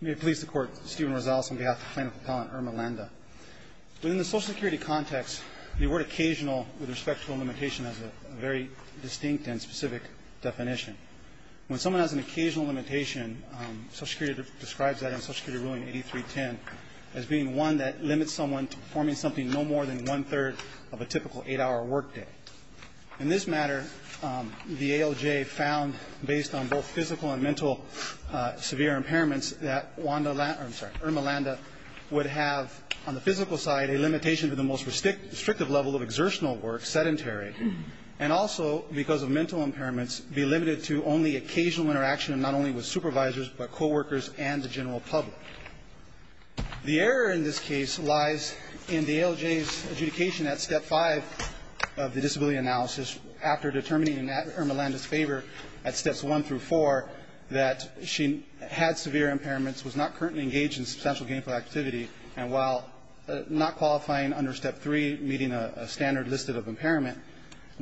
May it please the Court, Stephen Rosales on behalf of the plaintiff appellant Irma Landa. Within the Social Security context, the word occasional with respect to a limitation has a very distinct and specific definition. When someone has an occasional limitation, Social Security describes that in Social Security Ruling 8310 as being one that limits someone to performing something no more than one-third of a typical eight-hour workday. In this matter, the ALJ found, based on both physical and mental severe impairments, that Irma Landa would have, on the physical side, a limitation to the most restrictive level of exertional work, sedentary, and also, because of mental impairments, be limited to only occasional interaction, not only with supervisors but coworkers and the general public. The error in this case lies in the ALJ's adjudication at Step 5 of the disability analysis, after determining in Irma Landa's favor at Steps 1 through 4 that she had severe impairments, was not currently engaged in substantial gainful activity, and while not qualifying under Step 3, meeting a standard listed of impairment,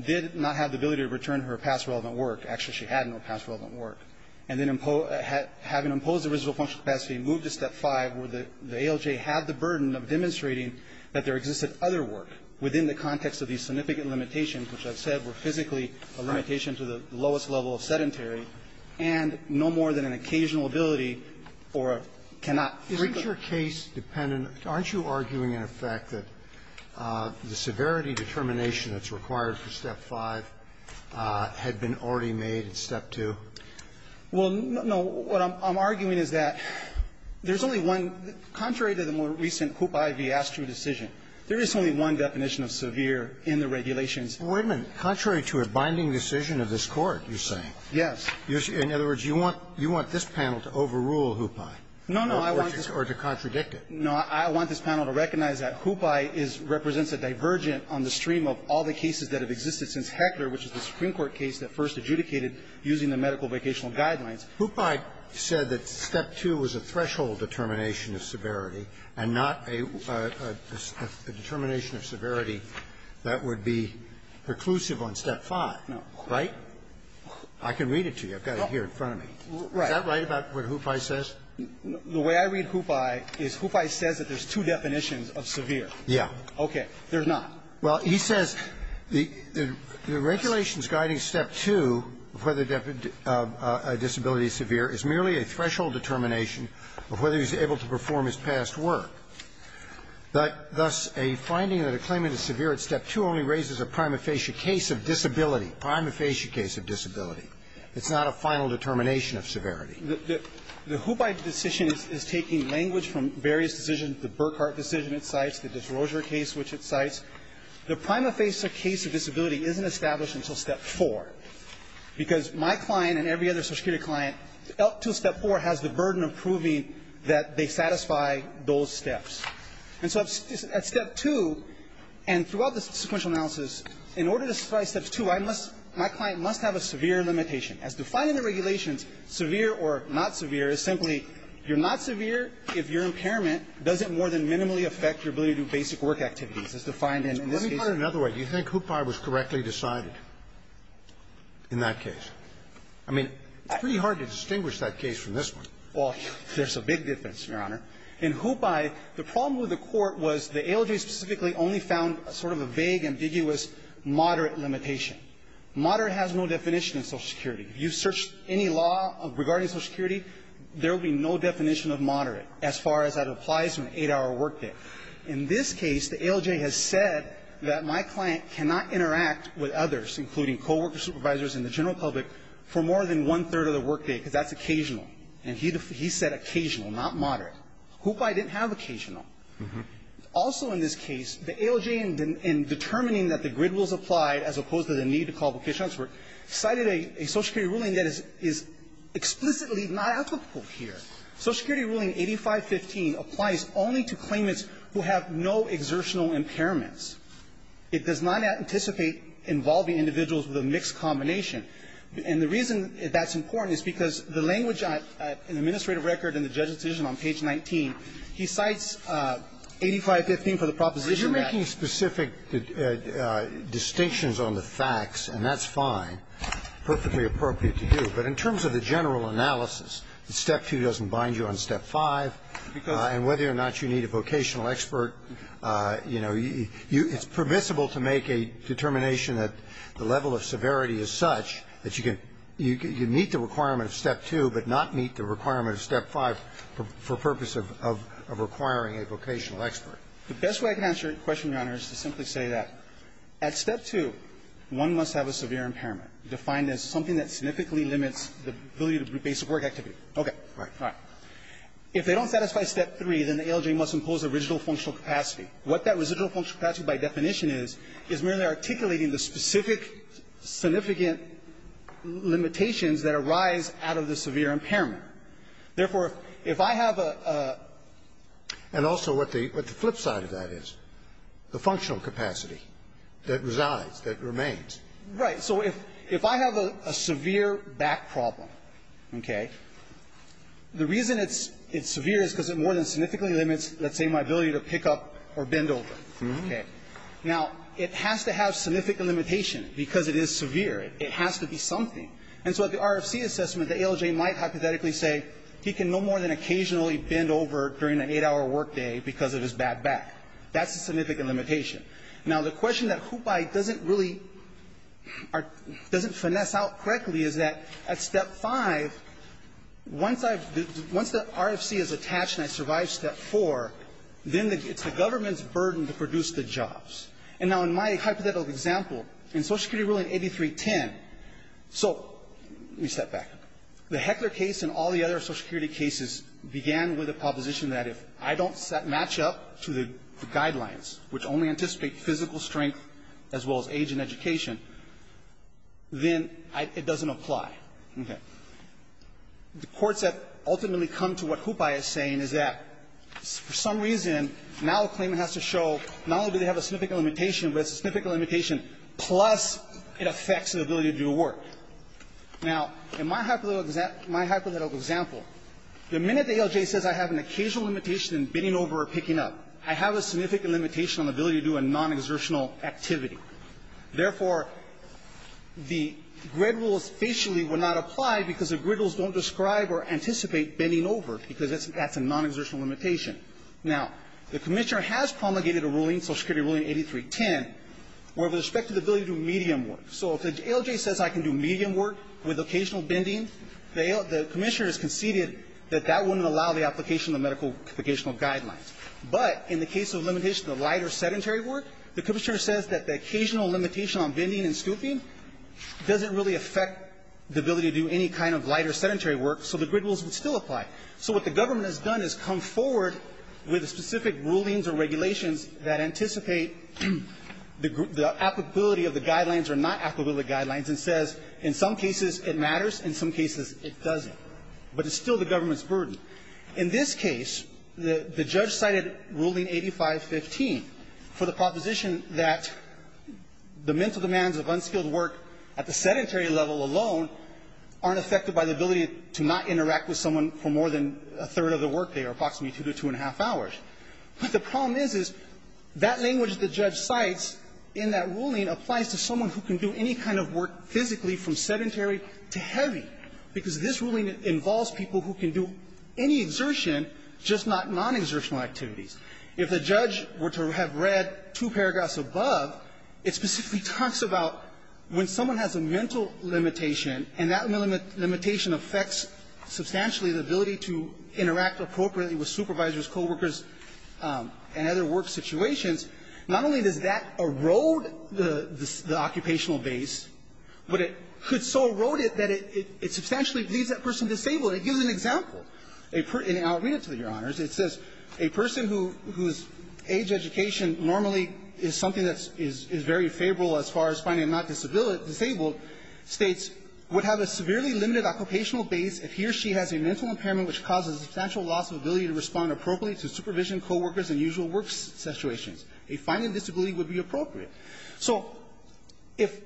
did not have the ability to return her past relevant work. Actually, she had no past relevant work. And then having imposed the residual functional capacity, moved to Step 5 where the ALJ had the burden of demonstrating that there existed other work within the context of these significant limitations, which I've said were physically a limitation to the lowest level of sedentary, and no more than an occasional ability or cannot. Roberts. Isn't your case dependent? Aren't you arguing, in effect, that the severity determination that's required for Step 5 had been already made at Step 2? Well, no. What I'm arguing is that there's only one. Contrary to the more recent Hupai v. Astru decision, there is only one definition of severe in the regulations. Wait a minute. Contrary to a binding decision of this Court, you're saying. Yes. In other words, you want this panel to overrule Hupai. No, no. Or to contradict it. No. I want this panel to recognize that Hupai represents a divergent on the stream of all the cases that have existed since Heckler, which is the Supreme Court case that first adjudicated using the medical-vacational guidelines. Hupai said that Step 2 was a threshold determination of severity and not a determination of severity that would be preclusive on Step 5. No. Right? I can read it to you. I've got it here in front of me. Right. Is that right about what Hupai says? The way I read Hupai is Hupai says that there's two definitions of severe. Okay. There's not. Well, he says the regulations guiding Step 2 of whether a disability is severe is merely a threshold determination of whether he's able to perform his past work. Thus, a finding that a claimant is severe at Step 2 only raises a prima facie case of disability, a prima facie case of disability. It's not a final determination of severity. The Hupai decision is taking language from various decisions, the Burkhart decision it cites, the Desrosiers case which it cites. The prima facie case of disability isn't established until Step 4 because my client and every other social security client up until Step 4 has the burden of proving that they satisfy those steps. And so at Step 2 and throughout the sequential analysis, in order to satisfy Step 2, my client must have a severe limitation. As defined in the regulations, severe or not severe is simply you're not severe if your impairment doesn't more than minimally affect your ability to do basic work activities, as defined in this case. Let me put it another way. Do you think Hupai was correctly decided in that case? I mean, it's pretty hard to distinguish that case from this one. Well, there's a big difference, Your Honor. In Hupai, the problem with the Court was the ALJ specifically only found sort of a vague, ambiguous, moderate limitation. Moderate has no definition in social security. If you search any law regarding social security, there will be no definition of moderate as far as that applies to an 8-hour workday. In this case, the ALJ has said that my client cannot interact with others, including coworkers, supervisors, and the general public, for more than one-third of the workday because that's occasional. And he said occasional, not moderate. Hupai didn't have occasional. Also in this case, the ALJ in determining that the grid was applied as opposed to the need to call vocations were cited a social security ruling that is explicitly not applicable here. Social security ruling 8515 applies only to claimants who have no exertional impairments. It does not anticipate involving individuals with a mixed combination. And the reason that's important is because the language in the administrative record in the judge's decision on page 19, he cites 8515 for the proposition that the grid was applied. And so he's very clear that that is a sufficient amount of time, but it's not a sufficient amount of time to make a judgment of those two facts, and that's fine, perfectly appropriate to do. But in terms of the general analysis, step two doesn't bind you on step five, and whether or not you need a vocational expert, you know, you – it's permissible to make a determination that the level of severity is such that you can – you meet the requirement of step two, but not meet the requirement of step five for purpose of requiring a vocational expert. The best way I can answer your question, Your Honor, is to simply say that at step two, one must have a severe impairment defined as something that significantly limits the ability to do basic work activity. Okay. All right. All right. If they don't satisfy step three, then the ALJ must impose a residual functional capacity. What that residual functional capacity by definition is, is merely articulating the specific significant limitations that arise out of the severe impairment. Therefore, if I have a – And also what the flip side of that is, the functional capacity that resides, that remains. Right. So if I have a severe back problem, okay, the reason it's severe is because it more than significantly limits, let's say, my ability to pick up or bend over. Okay. Now, it has to have significant limitation because it is severe. It has to be something. And so at the RFC assessment, the ALJ might hypothetically say he can no more than occasionally bend over during an eight-hour workday because of his bad back. That's a significant limitation. Now, the question that Hupai doesn't really – doesn't finesse out correctly is that at step five, once I've – once the RFC is attached and I survive step four, then it's the government's burden to produce the jobs. And now in my hypothetical example, in Social Security ruling 8310 – so let me step back. The Heckler case and all the other Social Security cases began with a proposition that if I don't match up to the guidelines, which only anticipate physical strength as well as age and education, then it doesn't apply. Okay. The courts have ultimately come to what Hupai is saying is that for some reason, now a claimant has to show not only do they have a significant limitation, but it's a significant limitation, plus it affects their ability to do work. Now, in my hypothetical example, the minute the ALJ says I have an occasional limitation in bending over or picking up, I have a significant limitation on ability to do a nonexertional activity. Therefore, the GRID rules facially would not apply because the GRID rules don't describe or anticipate bending over because that's a nonexertional limitation. Now, the Commissioner has promulgated a ruling, Social Security ruling 8310, with respect to the ability to do medium work. So if the ALJ says I can do medium work with occasional bending, the Commissioner has conceded that that wouldn't allow the application of the medical – the occasional guidelines. But in the case of limitation of light or sedentary work, the Commissioner says that the occasional limitation on bending and scooping doesn't really affect the ability to do any kind of light or sedentary work, so the GRID rules would still apply. So what the government has done is come forward with specific rulings or regulations that anticipate the applicability of the guidelines or not applicability guidelines and says in some cases it matters, in some cases it doesn't. But it's still the government's burden. In this case, the – the judge cited ruling 8515 for the proposition that the mental demands of unskilled work at the sedentary level alone aren't affected by the ability to not interact with someone for more than a third of the workday or approximately two to two-and-a-half hours. But the problem is, is that language the judge cites in that ruling applies to someone who can do any kind of work physically from sedentary to heavy, because this ruling involves people who can do any exertion, just not non-exertional activities. If the judge were to have read two paragraphs above, it specifically talks about when someone has a mental limitation, and that mental limitation affects substantially the ability to interact appropriately with supervisors, coworkers, and other work situations, not only does that erode the occupational base, but it could so erode it that it substantially leaves that person disabled. It gives an example. And I'll read it to you, Your Honors. It says a person whose age education normally is something that is very favorable as far as finding a non-disabled states would have a severely limited occupational base if he or she has a mental impairment which causes substantial loss of ability to respond appropriately to supervision, coworkers, and usual work situations. A fine and disability would be appropriate. So if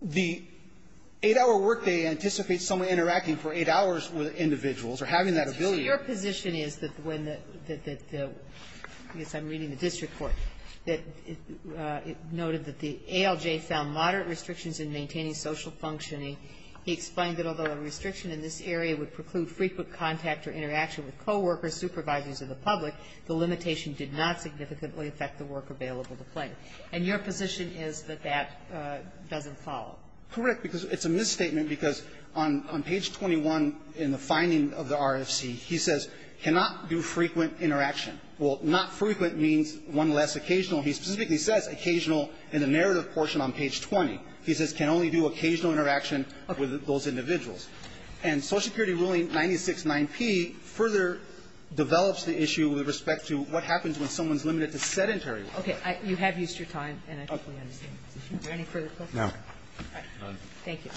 the 8-hour workday anticipates someone interacting for 8 hours with individuals or having that ability to respond appropriately to supervision, coworkers, and usual work situations, a fine and disability would be appropriate. And your position is that that doesn't follow? Correct. Because it's a misstatement because on page 21 in the finding of the RFC, he says cannot do frequent interaction. Well, not frequent means one less occasional. He specifically says occasional in the narrative portion on page 20. He says can only do occasional interaction with those individuals. And Social Security ruling 96-9P further develops the issue with respect to what happens when someone's limited to sedentary work. Okay. You have used your time, and I completely understand. Is there any further questions? No. All right. None. Thank you.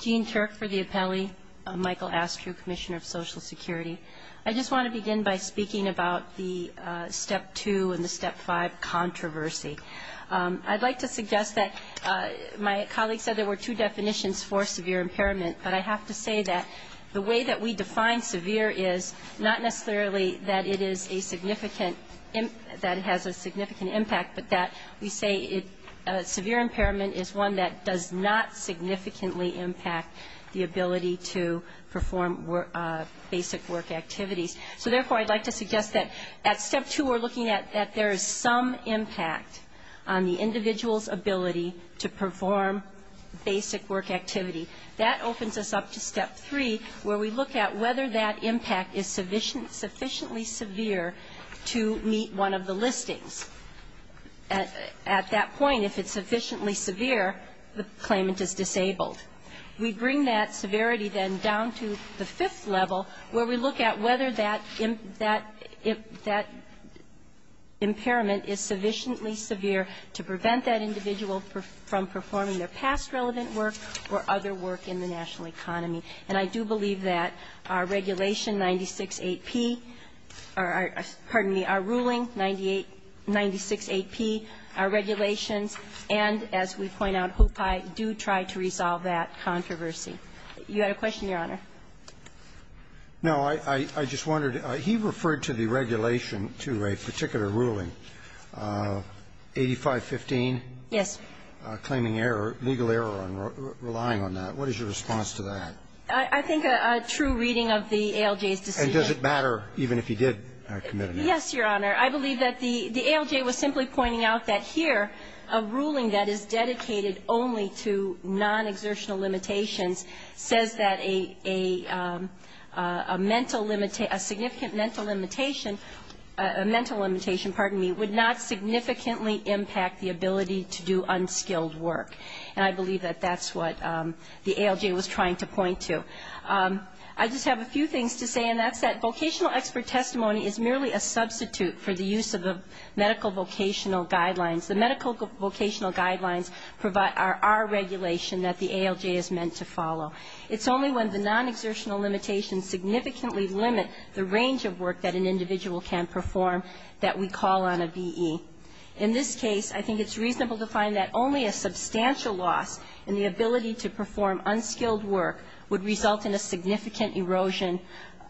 Jean Turk for the appellee. Michael Astrew, Commissioner of Social Security. I just want to begin by speaking about the Step 2 and the Step 5 controversy. I'd like to suggest that my colleague said there were two definitions for severe impairment, but I have to say that the way that we define severe is not necessarily that it is a significant impact, but that we say severe impairment is one that does not significantly impact the ability to perform basic work activities. So, therefore, I'd like to suggest that at Step 2 we're looking at that there is some impact on the individual's ability to perform basic work activity. That opens us up to Step 3, where we look at whether that impact is sufficiently severe to meet one of the listings. At that point, if it's sufficiently severe, the claimant is disabled. We bring that severity then down to the fifth level, where we look at whether that impairment is sufficiently severe to prevent that individual from performing their past relevant work or other work in the national economy. And I do believe that our regulation 96-8P or, pardon me, our ruling 98, 96-8P, our regulations, and, as we point out, hope I do try to resolve that controversy. You had a question, Your Honor? No. I just wondered. He referred to the regulation to a particular ruling, 85-15. Yes. Claiming error, legal error on relying on that. What is your response to that? I think a true reading of the ALJ's decision. And does it matter even if he did commit an error? Yes, Your Honor. I believe that the ALJ was simply pointing out that here a ruling that is dedicated only to non-exertional limitations says that a mental limitation, a significant mental limitation, a mental limitation, pardon me, would not significantly impact the ability to do unskilled work. And I believe that that's what the ALJ was trying to point to. I just have a few things to say, and that's that vocational expert testimony is merely a substitute for the use of the medical vocational guidelines. The medical vocational guidelines provide our regulation that the ALJ is meant to follow. It's only when the non-exertional limitations significantly limit the range of work that an individual can perform that we call on a VE. In this case, I think it's reasonable to find that only a substantial loss in the ability to perform unskilled work would result in a significant erosion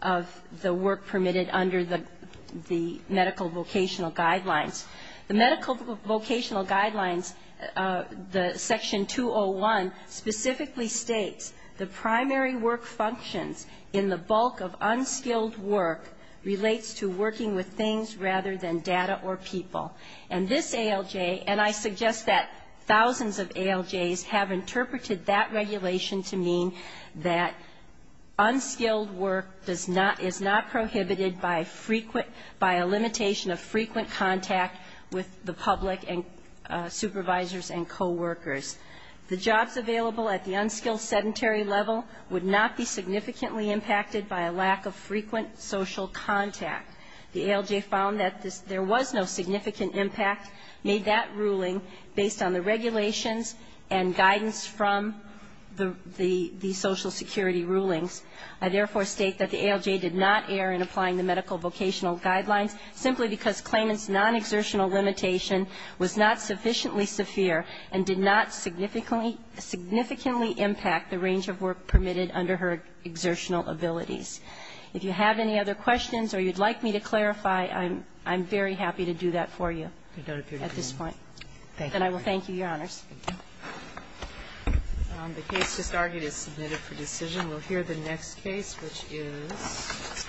of the work permitted under the medical vocational guidelines. The medical vocational guidelines, the section 201, specifically states the primary work functions in the bulk of unskilled work relates to working with things rather than data or people. And this ALJ, and I suggest that thousands of ALJs have interpreted that regulation to mean that unskilled work does not, is not prohibited by frequent, by a limitation of frequent contact with the public and supervisors and coworkers. The jobs available at the unskilled sedentary level would not be significantly impacted by a lack of frequent social contact. The ALJ found that there was no significant impact, made that ruling based on the regulations and guidance from the social security rulings. I therefore state that the ALJ did not err in applying the medical vocational guidelines simply because Klayman's non-exertional limitation was not sufficiently severe and did not significantly impact the range of work permitted under her exertional abilities. If you have any other questions or you'd like me to clarify, I'm very happy to do that for you at this point. And I will thank you, Your Honors. The case just argued is submitted for decision. We'll hear the next case, which is